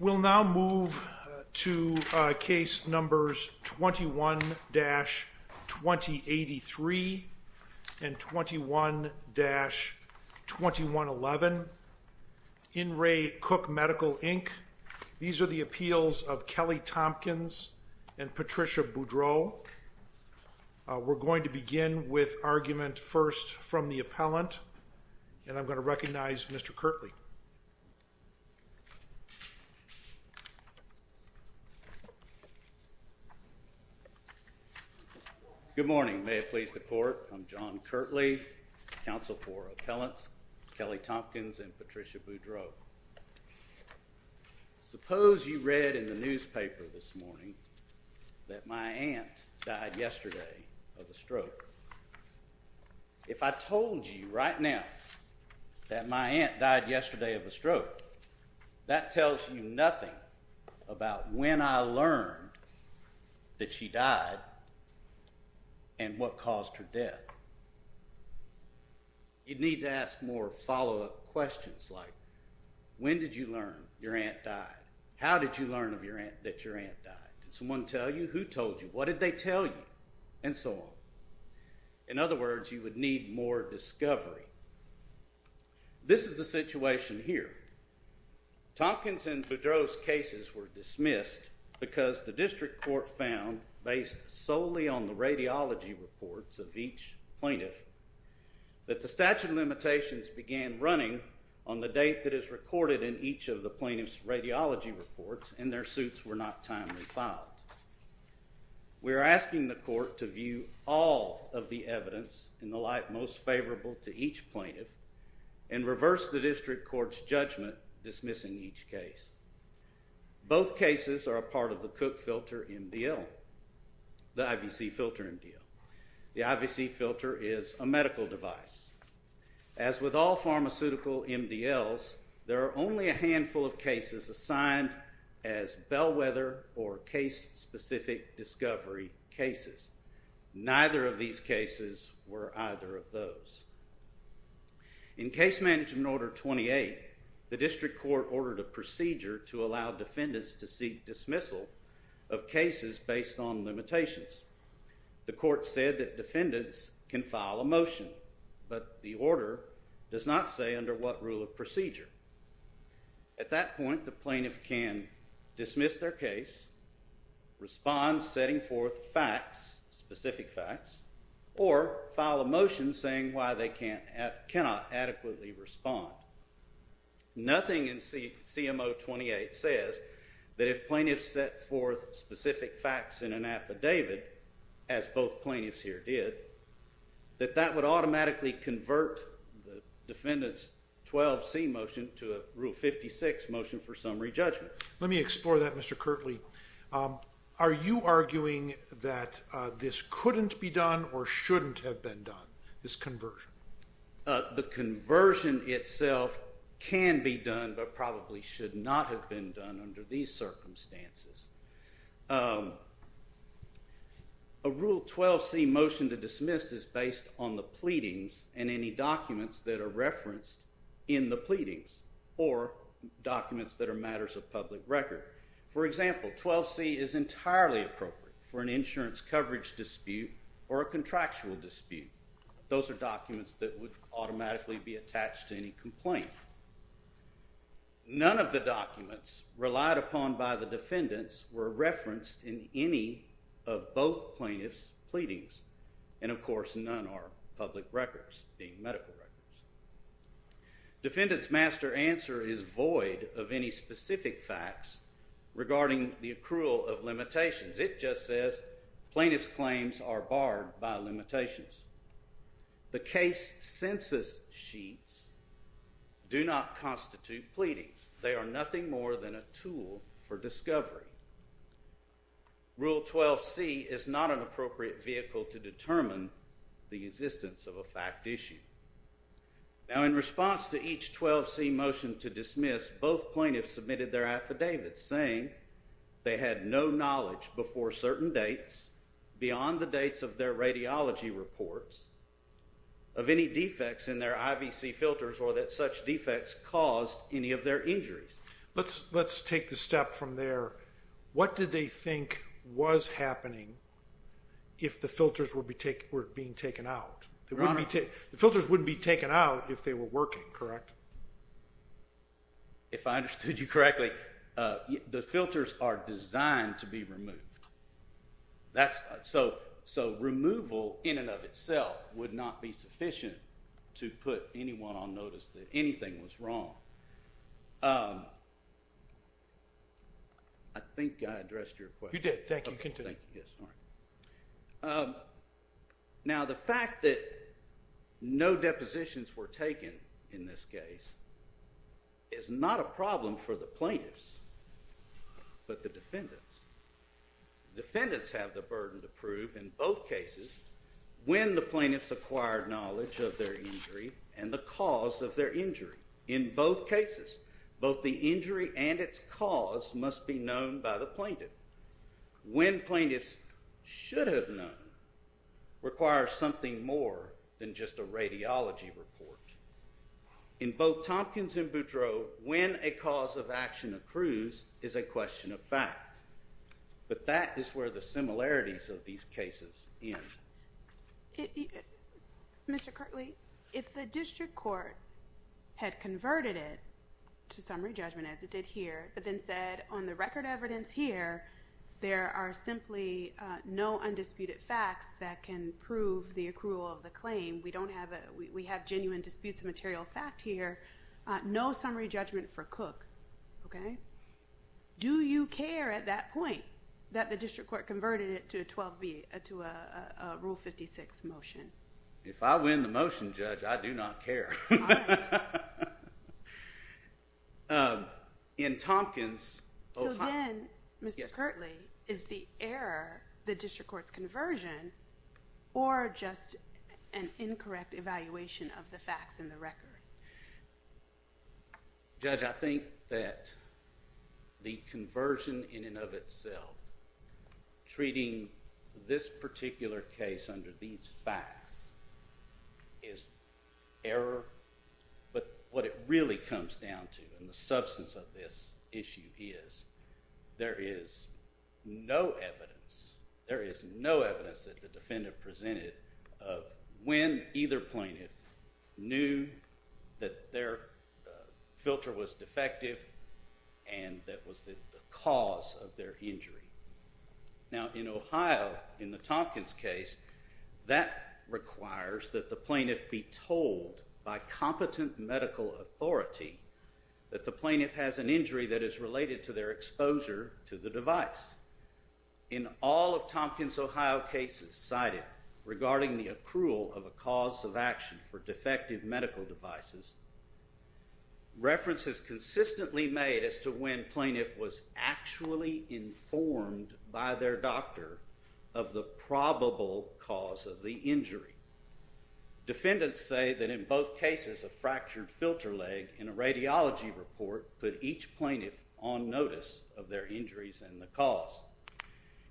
We'll now move to case numbers 21-2083 and 21-2111. In Re Cook Medical, Inc. These are the appeals of Kelly Thompkins and Patricia Boudreaux. We're going to begin with argument first from the appellant, and I'm going to recognize Mr. Kirtley. Good morning. May it please the court, I'm John Kirtley, counsel for appellants Kelly Thompkins and Patricia Boudreaux. Suppose you read in the newspaper this morning that my aunt died yesterday of a stroke. If I told you right now that my aunt died yesterday of a stroke, that tells you nothing about when I learned that she died and what caused her death. You'd need to ask more follow-up questions like, when did you learn your aunt died? How did you learn that your aunt died? Did someone tell you? Who told you? What did they tell you? And so on. In other words, you would need more discovery. This is the situation here. Thompkins and Boudreaux's cases were dismissed because the district court found, based solely on the radiology reports of each plaintiff, that the statute of limitations began running on the date that is recorded in each of the plaintiff's radiology reports, and their suits were not timely filed. We are asking the court to view all of the evidence in the light most favorable to each plaintiff and reverse the district court's judgment dismissing each case. Both cases are a part of the Cook Filter MDL, the IVC Filter MDL. The IVC Filter is a medical device. As with all pharmaceutical MDLs, there are only a handful of cases assigned as bellwether or case-specific discovery cases. Neither of these cases were either of those. In case management order 28, the district court ordered a procedure to allow defendants to seek dismissal of cases based on limitations. The court said that defendants can file a motion, but the order does not say under what rule of procedure. At that point, the plaintiff can dismiss their case, respond setting forth facts, specific facts, or file a motion saying why they cannot adequately respond. Nothing in CMO 28 says that if plaintiffs set forth specific facts in an affidavit, as both plaintiffs here did, that that would automatically convert the defendant's 12C motion to a Rule 56 motion for summary judgment. Let me explore that, Mr. Kirtley. Are you arguing that this couldn't be done or shouldn't have been done, this conversion? The conversion itself can be done but probably should not have been done under these circumstances. A Rule 12C motion to dismiss is based on the pleadings and any documents that are referenced in the pleadings or documents that are matters of public record. For example, 12C is entirely appropriate for an insurance coverage dispute or a contractual dispute. Those are documents that would automatically be attached to any complaint. None of the documents relied upon by the defendants were referenced in any of both plaintiffs' pleadings, and of course none are public records, being medical records. Defendant's master answer is void of any specific facts regarding the accrual of limitations. It just says plaintiff's claims are barred by limitations. The case census sheets do not constitute pleadings. They are nothing more than a tool for discovery. Rule 12C is not an appropriate vehicle to determine the existence of a fact issue. Now in response to each 12C motion to dismiss, both plaintiffs submitted their affidavits saying they had no knowledge before certain dates beyond the dates of their radiology reports of any defects in their IVC filters or that such defects caused any of their injuries. Let's take the step from there. What did they think was happening if the filters were being taken out? The filters wouldn't be taken out if they were working, correct? If I understood you correctly, the filters are designed to be removed. So removal in and of itself would not be sufficient to put anyone on notice that anything was wrong. Now the fact that no depositions were taken in this case is not a problem for the plaintiffs, but the defendants. Defendants have the burden to prove in both cases when the plaintiffs acquired knowledge of their injury and the cause of their injury. In both cases, both the injury and its cause must be known by the plaintiff. When plaintiffs should have known requires something more than just a radiology report. In both Tompkins and Boudreau, when a cause of action accrues is a question of fact. But that is where the similarities of these cases end. Mr. Kirtley, if the district court had converted it to summary judgment as it did here, but then said on the record evidence here, there are simply no undisputed facts that can prove the accrual of the claim. We have genuine disputes of material fact here. No summary judgment for Cook. Do you care at that point that the district court converted it to a Rule 56 motion? If I win the motion, Judge, I do not care. In Tompkins… So then, Mr. Kirtley, is the error the district court's conversion or just an incorrect evaluation of the facts in the record? Judge, I think that the conversion in and of itself, treating this particular case under these facts, is error. But what it really comes down to, and the substance of this issue is, there is no evidence that the defendant presented of when either plaintiff knew that their filter was defective and that was the cause of their injury. Now, in Ohio, in the Tompkins case, that requires that the plaintiff be told by competent medical authority that the plaintiff has an injury that is related to their exposure to the device. In all of Tompkins, Ohio cases cited regarding the accrual of a cause of action for defective medical devices, references consistently made as to when plaintiff was actually informed by their doctor of the probable cause of the injury. Defendants say that in both cases, a fractured filter leg in a radiology report put each plaintiff on notice of their injuries and the cause.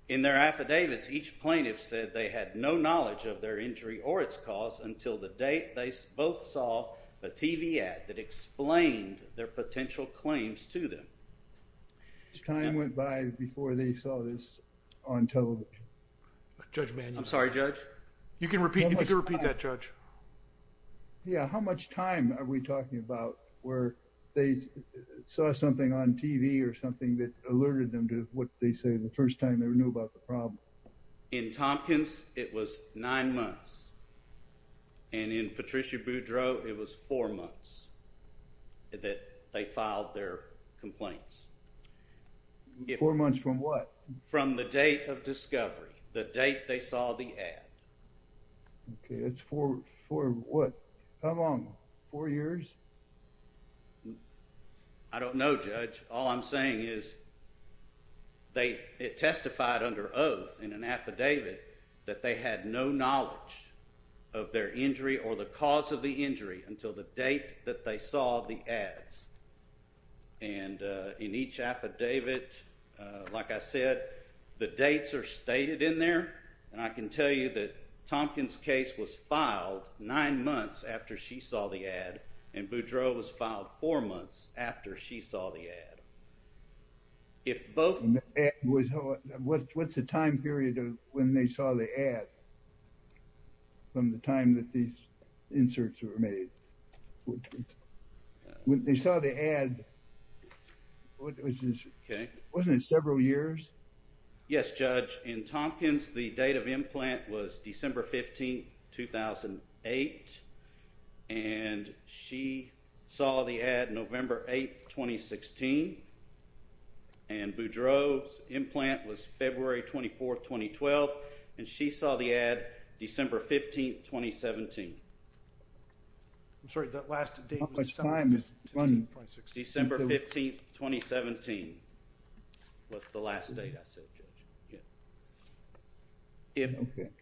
In their affidavits, each plaintiff said they had no knowledge of their injury or its cause until the date they both saw a TV ad that explained their potential claims to them. How much time went by before they saw this on television? Judge Mann. I'm sorry, Judge? You can repeat that, Judge. Yeah, how much time are we talking about where they saw something on TV or something that alerted them to what they say the first time they knew about the problem? In Tompkins, it was nine months. And in Patricia Boudreau, it was four months that they filed their complaints. Four months from what? From the date of discovery, the date they saw the ad. Okay, that's four what? How long? Four years? I don't know, Judge. All I'm saying is it testified under oath in an affidavit that they had no knowledge of their injury or the cause of the injury until the date that they saw the ads. And in each affidavit, like I said, the dates are stated in there. And I can tell you that Tompkins' case was filed nine months after she saw the ad, and Boudreau was filed four months after she saw the ad. What's the time period of when they saw the ad from the time that these inserts were made? When they saw the ad, wasn't it several years? Yes, Judge. In Tompkins, the date of implant was December 15, 2008, and she saw the ad November 8, 2016. And Boudreau's implant was February 24, 2012, and she saw the ad December 15, 2017. I'm sorry, that last date was December 15, 2017. That's the last date I said, Judge. If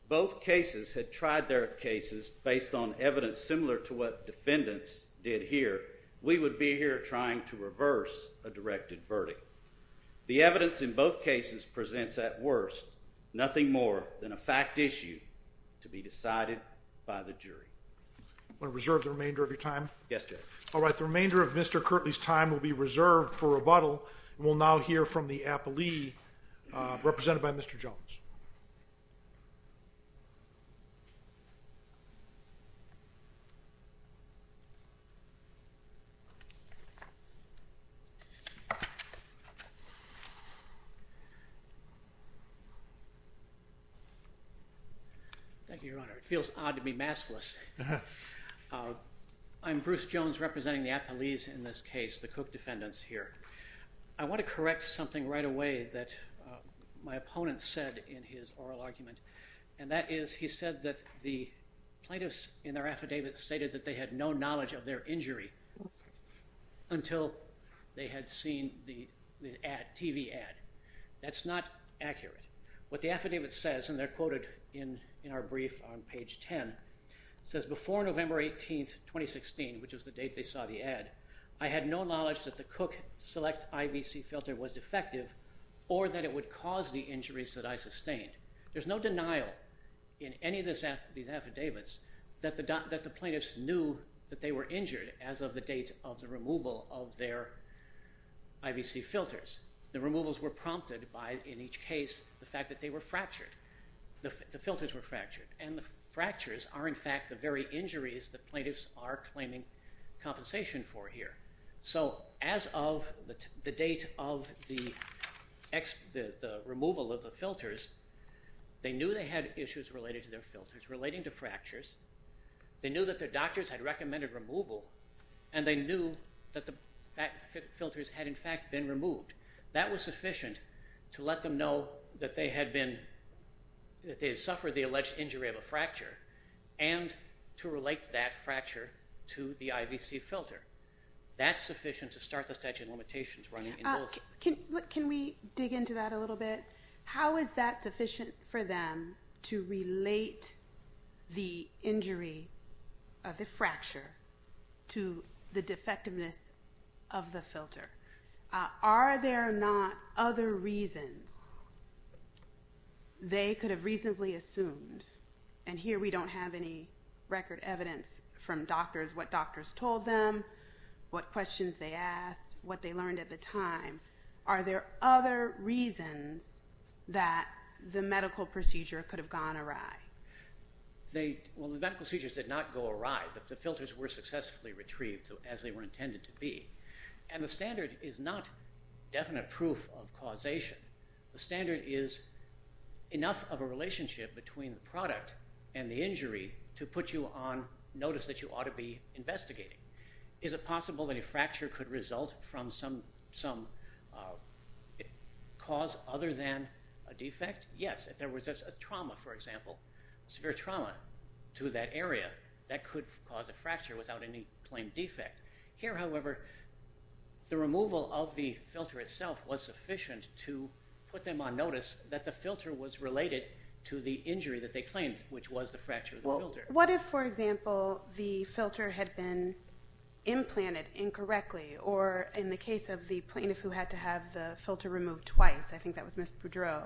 both cases had tried their cases based on evidence similar to what defendants did here, we would be here trying to reverse a directed verdict. The evidence in both cases presents at worst nothing more than a fact issue to be decided by the jury. Want to reserve the remainder of your time? Yes, Judge. All right. The remainder of Mr. Kirtley's time will be reserved for rebuttal, and we'll now hear from the appellee, represented by Mr. Jones. Thank you, Your Honor. It feels odd to be maskless. I'm Bruce Jones, representing the appellees in this case, the Cook defendants here. I want to correct something right away that my opponent said in his oral argument, and that is he said that the plaintiffs in their affidavit stated that they had no knowledge of their injury until they had seen the ad, TV ad. That's not accurate. What the affidavit says, and they're quoted in our brief on page 10, says, Before November 18, 2016, which was the date they saw the ad, I had no knowledge that the Cook Select IVC filter was defective or that it would cause the injuries that I sustained. There's no denial in any of these affidavits that the plaintiffs knew that they were injured as of the date of the removal of their IVC filters. The removals were prompted by, in each case, the fact that they were fractured. The filters were fractured, and the fractures are, in fact, the very injuries the plaintiffs are claiming compensation for here. So as of the date of the removal of the filters, they knew they had issues related to their filters, relating to fractures. They knew that their doctors had recommended removal, and they knew that the filters had, in fact, been removed. That was sufficient to let them know that they had been, that they had suffered the alleged injury of a fracture and to relate that fracture to the IVC filter. That's sufficient to start the statute of limitations running in both. Can we dig into that a little bit? How is that sufficient for them to relate the injury of the fracture to the defectiveness of the filter? Are there not other reasons they could have reasonably assumed? And here we don't have any record evidence from doctors, what doctors told them, what questions they asked, what they learned at the time. Are there other reasons that the medical procedure could have gone awry? Well, the medical procedures did not go awry. The filters were successfully retrieved as they were intended to be. And the standard is not definite proof of causation. The standard is enough of a relationship between the product and the injury to put you on notice that you ought to be investigating. Is it possible that a fracture could result from some cause other than a defect? Yes, if there was a trauma, for example, severe trauma to that area, that could cause a fracture without any claimed defect. Here, however, the removal of the filter itself was sufficient to put them on notice that the filter was related to the injury that they claimed, which was the fracture of the filter. What if, for example, the filter had been implanted incorrectly, or in the case of the plaintiff who had to have the filter removed twice, I think that was Ms. Boudreau,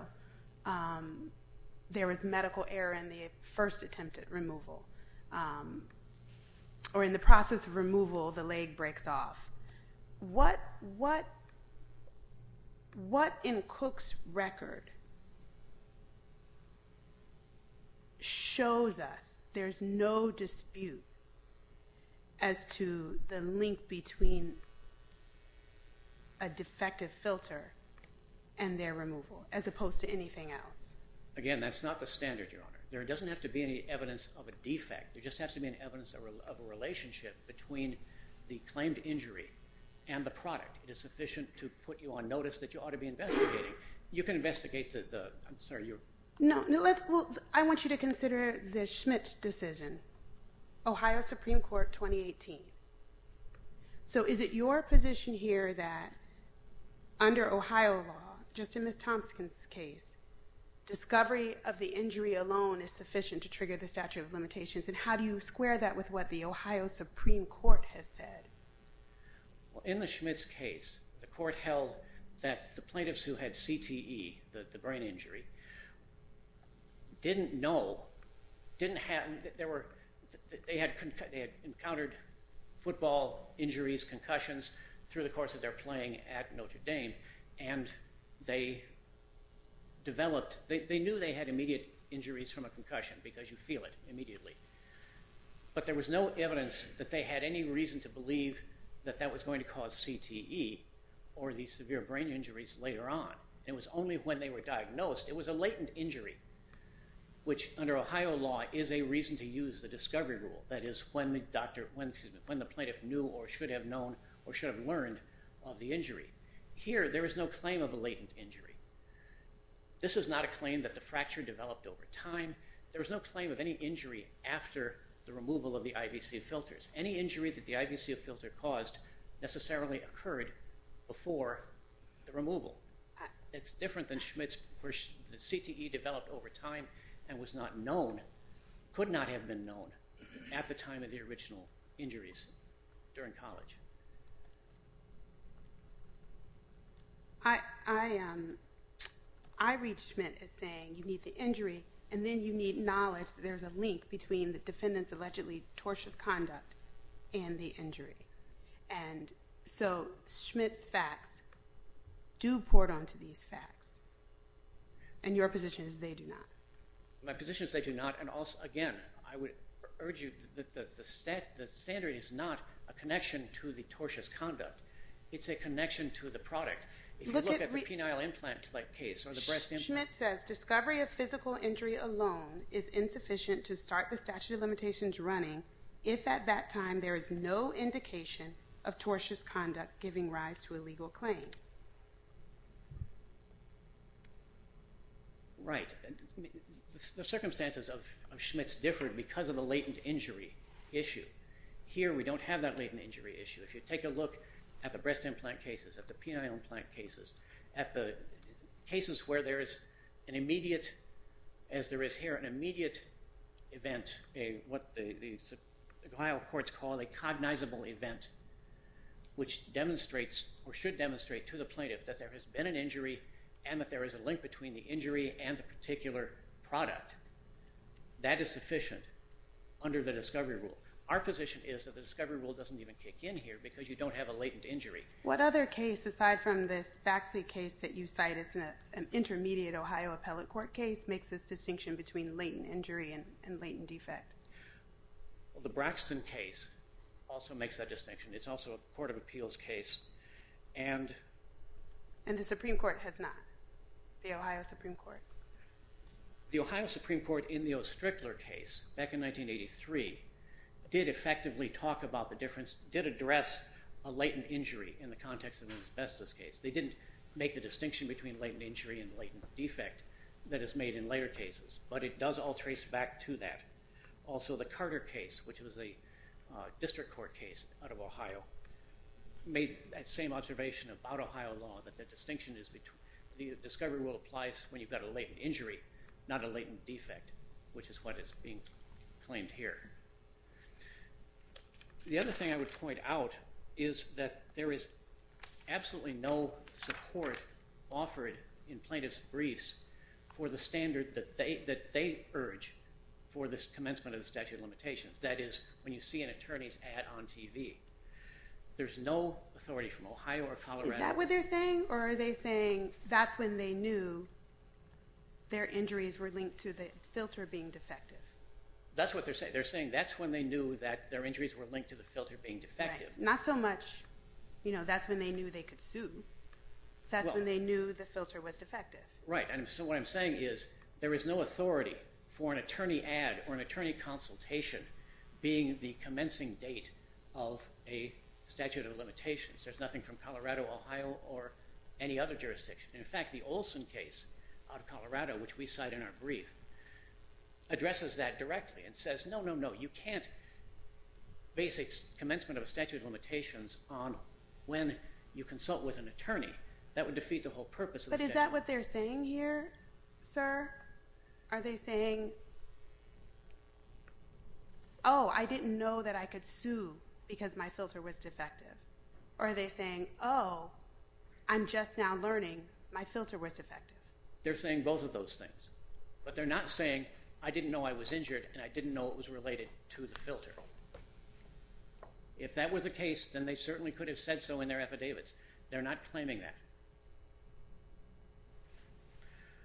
there was medical error in the first attempt at removal, or in the process of removal, the leg breaks off? What in Cook's record shows us there's no dispute as to the link between a defective filter and their removal, as opposed to anything else? Again, that's not the standard, Your Honor. There doesn't have to be any evidence of a defect. There just has to be an evidence of a relationship between the claimed injury and the product. It is sufficient to put you on notice that you ought to be investigating. You can investigate the… I want you to consider the Schmitt decision, Ohio Supreme Court 2018. Is it your position here that under Ohio law, just in Ms. Thompson's case, discovery of the injury alone is sufficient to trigger the statute of limitations? How do you square that with what the Ohio Supreme Court has said? In the Schmitt's case, the court held that the plaintiffs who had CTE, the brain injury, didn't know, they had encountered football injuries, concussions, through the course of their playing at Notre Dame, and they developed, they knew they had immediate injuries from a concussion because you feel it immediately. But there was no evidence that they had any reason to believe that that was going to cause CTE or these severe brain injuries later on. It was only when they were diagnosed. It was a latent injury, which under Ohio law is a reason to use the discovery rule. That is when the doctor, when the plaintiff knew or should have known or should have learned of the injury. Here, there is no claim of a latent injury. This is not a claim that the fracture developed over time. There is no claim of any injury after the removal of the IVC filters. Any injury that the IVC filter caused necessarily occurred before the removal. It's different than Schmitt's where the CTE developed over time and was not known, could not have been known, at the time of the original injuries during college. I read Schmitt as saying you need the injury, and then you need knowledge that there is a link between the defendant's allegedly tortious conduct and the injury. So Schmitt's facts do port onto these facts, and your position is they do not. My position is they do not, and again, I would urge you that the standard is not a connection to the tortious conduct. It's a connection to the product. If you look at the penile implant case or the breast implant case. Schmitt says discovery of physical injury alone is insufficient to start the statute of limitations running if at that time there is no indication of tortious conduct giving rise to a legal claim. Right. The circumstances of Schmitt's differed because of the latent injury issue. Here we don't have that latent injury issue. If you take a look at the breast implant cases, at the penile implant cases, at the cases where there is an immediate, as there is here, an immediate event, what the Ohio courts call a cognizable event, which demonstrates or should demonstrate to the plaintiff that there has been an injury and that there is a link between the injury and the particular product, that is sufficient under the discovery rule. Our position is that the discovery rule doesn't even kick in here because you don't have a latent injury. What other case, aside from this Faxley case that you cite as an intermediate Ohio appellate court case, makes this distinction between latent injury and latent defect? The Braxton case also makes that distinction. It's also a court of appeals case. And the Supreme Court has not? The Ohio Supreme Court? The Ohio Supreme Court in the O. Strickler case back in 1983 did effectively talk about the difference, did address a latent injury in the context of an asbestos case. They didn't make the distinction between latent injury and latent defect that is made in later cases. But it does all trace back to that. Also, the Carter case, which was a district court case out of Ohio, made that same observation about Ohio law that the distinction is between the discovery rule applies when you've got a latent injury, not a latent defect, which is what is being claimed here. The other thing I would point out is that there is absolutely no support offered in plaintiff's briefs for the standard that they urge for the commencement of the statute of limitations. That is, when you see an attorney's ad on TV. There's no authority from Ohio or Colorado. Is that what they're saying? Or are they saying that's when they knew their injuries were linked to the filter being defective? That's what they're saying. They're saying that's when they knew that their injuries were linked to the filter being defective. Right. Not so much that's when they knew they could sue. That's when they knew the filter was defective. Right. So what I'm saying is there is no authority for an attorney ad or an attorney consultation being the commencing date of a statute of limitations. There's nothing from Colorado, Ohio, or any other jurisdiction. In fact, the Olson case out of Colorado, which we cite in our brief, addresses that directly and says no, no, no. You can't base a commencement of a statute of limitations on when you consult with an attorney. That would defeat the whole purpose of the statute. But is that what they're saying here, sir? Are they saying, oh, I didn't know that I could sue because my filter was defective? Or are they saying, oh, I'm just now learning my filter was defective? They're saying both of those things. But they're not saying I didn't know I was injured and I didn't know it was related to the filter. If that was the case, then they certainly could have said so in their affidavits. They're not claiming that.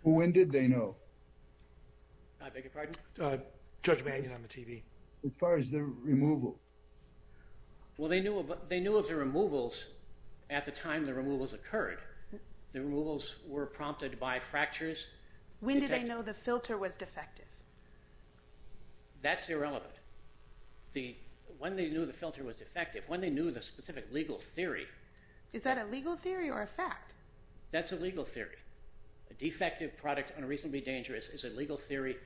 When did they know? I beg your pardon? Judge, may I get on the TV? As far as the removal. Well, they knew of the removals at the time the removals occurred. The removals were prompted by fractures. When did they know the filter was defective? That's irrelevant. When they knew the filter was defective, when they knew the specific legal theory. Is that a legal theory or a fact? That's a legal theory. A defective product unreasonably dangerous is a legal theory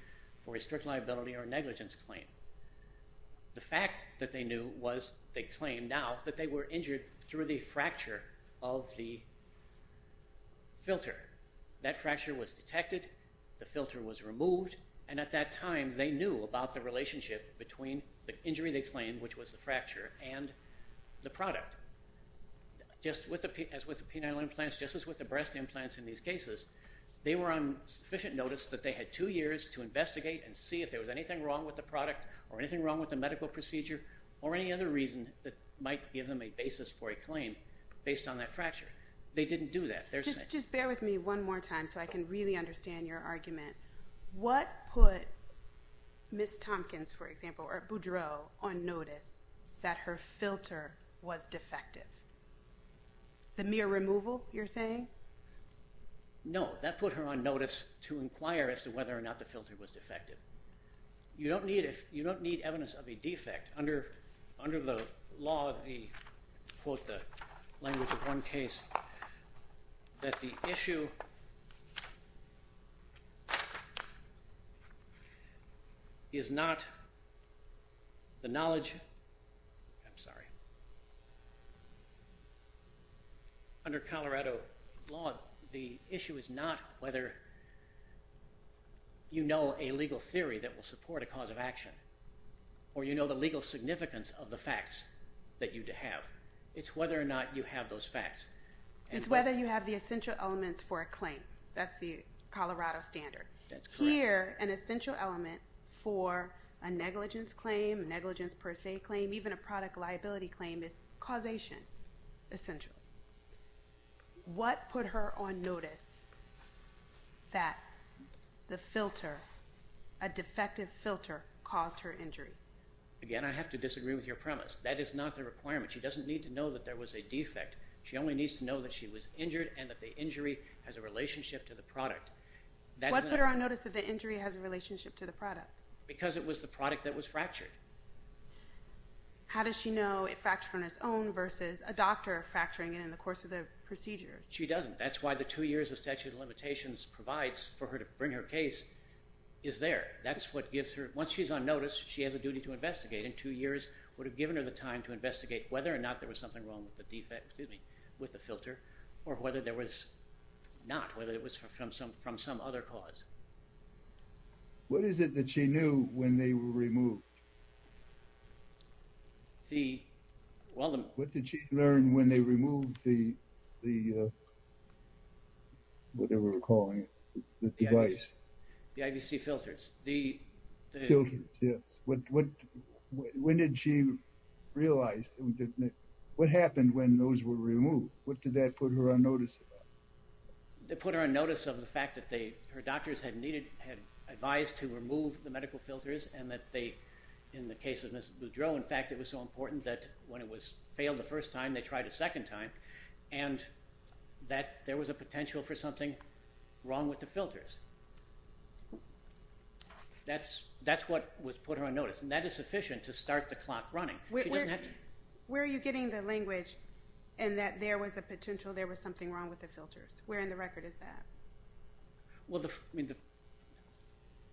for a strict liability or negligence claim. The fact that they knew was they claimed now that they were injured through the fracture of the filter. At that time, they knew about the relationship between the injury they claimed, which was the fracture, and the product. Just as with the penile implants, just as with the breast implants in these cases, they were on sufficient notice that they had two years to investigate and see if there was anything wrong with the product or anything wrong with the medical procedure or any other reason that might give them a basis for a claim based on that fracture. They didn't do that. Just bear with me one more time so I can really understand your argument. What put Ms. Tompkins, for example, or Boudreau on notice that her filter was defective? The mere removal, you're saying? No, that put her on notice to inquire as to whether or not the filter was defective. You don't need evidence of a defect. In fact, under the law, the quote, the language of one case, that the issue is not the knowledge. I'm sorry. Under Colorado law, the issue is not whether you know a legal theory that will support a cause of action or you know the legal significance of the facts that you have. It's whether or not you have those facts. It's whether you have the essential elements for a claim. That's the Colorado standard. That's correct. Here, an essential element for a negligence claim, negligence per se claim, even a product liability claim is causation, essential. What put her on notice that the filter, a defective filter, caused her injury? Again, I have to disagree with your premise. That is not the requirement. She doesn't need to know that there was a defect. She only needs to know that she was injured and that the injury has a relationship to the product. What put her on notice that the injury has a relationship to the product? Because it was the product that was fractured. How does she know it fractured on its own versus a doctor fracturing it in the course of the procedures? She doesn't. That's why the two years of statute of limitations provides for her to bring her case is there. That's what gives her – once she's on notice, she has a duty to investigate. Two years would have given her the time to investigate whether or not there was something wrong with the filter or whether there was not, whether it was from some other cause. What is it that she knew when they were removed? What did she learn when they removed the – whatever we're calling it, the device? The IBC filters. The – Filters, yes. When did she realize – what happened when those were removed? What did that put her on notice about? It put her on notice of the fact that her doctors had advised to remove the medical filters and that they – in the case of Mrs. Boudreau, in fact, it was so important that when it was failed the first time, they tried a second time, and that there was a potential for something wrong with the filters. That's what put her on notice, and that is sufficient to start the clock running. She doesn't have to – Where are you getting the language in that there was a potential there was something wrong with the filters? Where in the record is that? Well,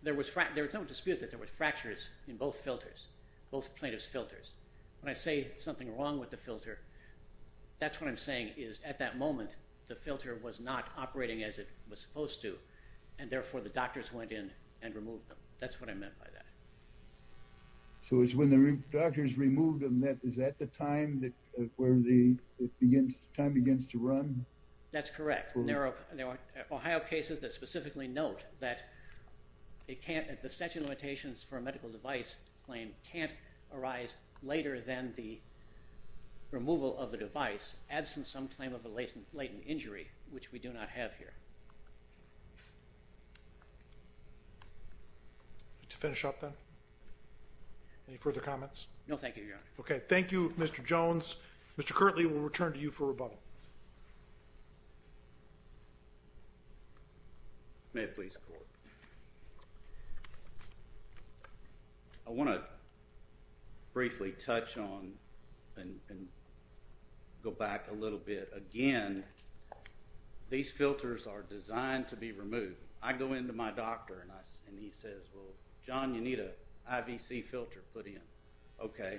there was no dispute that there were fractures in both filters, both plaintiff's filters. When I say something wrong with the filter, that's what I'm saying is at that moment the filter was not operating as it was supposed to, and therefore the doctors went in and removed them. That's what I meant by that. So it was when the doctors removed them that – is that the time that – where the time begins to run? That's correct. There are Ohio cases that specifically note that it can't – the statute of limitations for a medical device claim can't arise later than the removal of the device, absent some claim of a latent injury, which we do not have here. To finish up, then? Any further comments? No, thank you, Your Honor. Okay. Thank you, Mr. Jones. Mr. Kirtley, we'll return to you for rebuttal. May it please the Court. I want to briefly touch on and go back a little bit. Again, these filters are designed to be removed. I go into my doctor and he says, well, John, you need an IVC filter put in. Okay.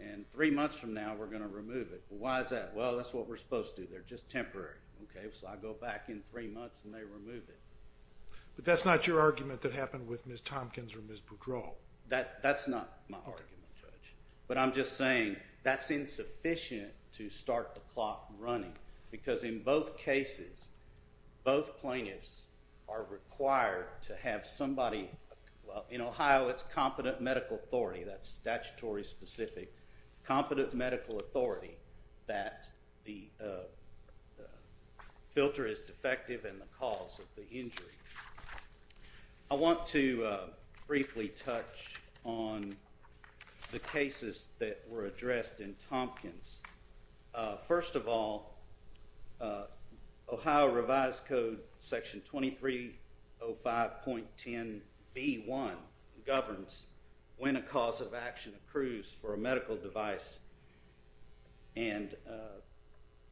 And three months from now, we're going to remove it. Why is that? Well, that's what we're supposed to do. They're just temporary. Okay. So I go back in three months and they remove it. But that's not your argument that happened with Ms. Tompkins or Ms. Boudreaux. That's not my argument, Judge. But I'm just saying that's insufficient to start the clock running because in both cases, both plaintiffs are required to have somebody – well, in Ohio, it's competent medical authority. That's statutory specific. Competent medical authority that the filter is defective in the cause of the injury. I want to briefly touch on the cases that were addressed in Tompkins. First of all, Ohio Revised Code Section 2305.10b1 governs when a cause of action accrues for a medical device. And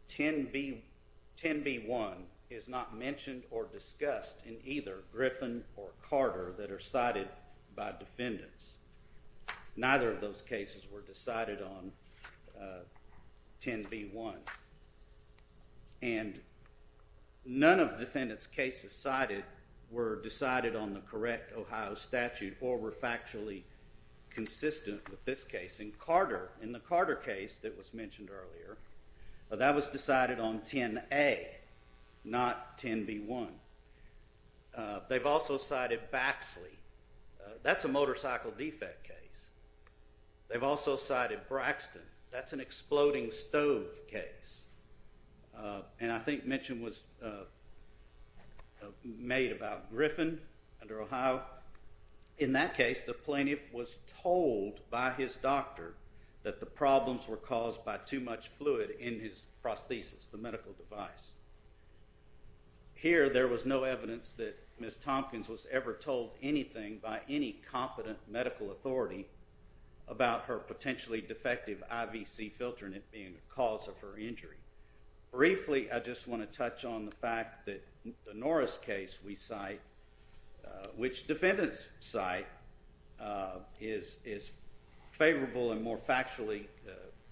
10b1 is not mentioned or discussed in either Griffin or Carter that are cited by defendants. Neither of those cases were decided on 10b1. And none of defendants' cases cited were decided on the correct Ohio statute or were factually consistent with this case. In Carter, in the Carter case that was mentioned earlier, that was decided on 10a, not 10b1. They've also cited Baxley. That's a motorcycle defect case. They've also cited Braxton. That's an exploding stove case. And I think mention was made about Griffin under Ohio. In that case, the plaintiff was told by his doctor that the problems were caused by too much fluid in his prosthesis, the medical device. Here, there was no evidence that Ms. Tompkins was ever told anything by any competent medical authority about her potentially defective IVC filter and it being the cause of her injury. Briefly, I just want to touch on the fact that the Norris case we cite, which defendants cite, is favorable and more factually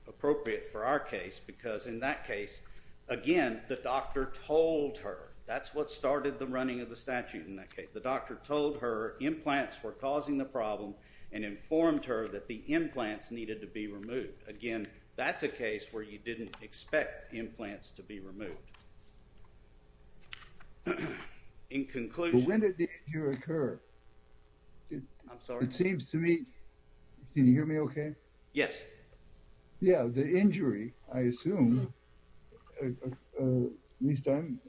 appropriate for our case because in that case, again, the doctor told her. That's what started the running of the statute in that case. The doctor told her implants were causing the problem and informed her that the implants needed to be removed. Again, that's a case where you didn't expect implants to be removed. In conclusion... When did the injury occur? I'm sorry? It seems to me... Can you hear me okay? Yes. Yeah, the injury, I assume, at least I'm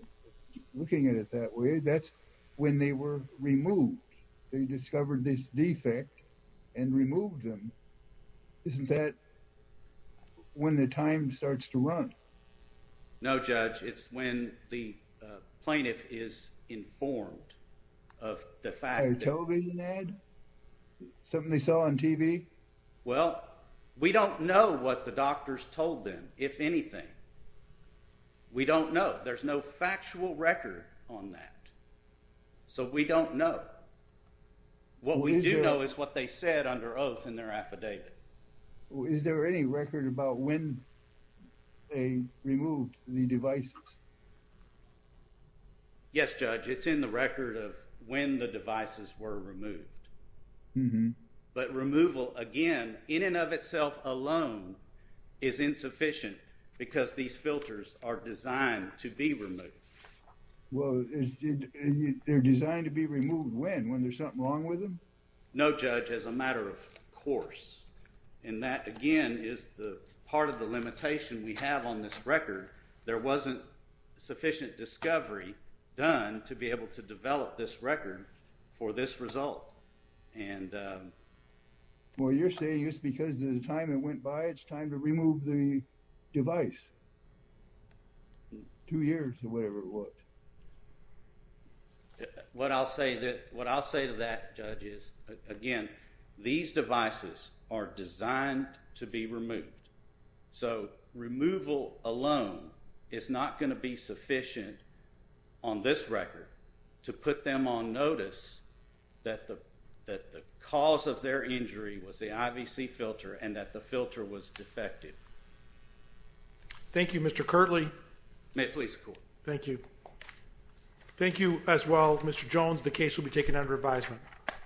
looking at it that way, that's when they were removed. They discovered this defect and removed them. Isn't that when the time starts to run? No, Judge, it's when the plaintiff is informed of the fact that... A television ad? Something they saw on TV? Well, we don't know what the doctors told them, if anything. We don't know. There's no factual record on that, so we don't know. What we do know is what they said under oath in their affidavit. Is there any record about when they removed the devices? Yes, Judge, it's in the record of when the devices were removed. But removal, again, in and of itself alone, is insufficient because these filters are designed to be removed. Well, they're designed to be removed when? When there's something wrong with them? No, Judge, as a matter of course. And that, again, is part of the limitation we have on this record. There wasn't sufficient discovery done to be able to develop this record for this result. Well, you're saying it's because the time that went by, it's time to remove the device. Two years or whatever it was. What I'll say to that, Judge, is, again, these devices are designed to be removed. So removal alone is not going to be sufficient on this record to put them on notice that the cause of their injury was the IVC filter and that the filter was defective. Thank you, Mr. Kirtley. May it please the Court. Thank you. Thank you as well, Mr. Jones. The case will be taken under advisement.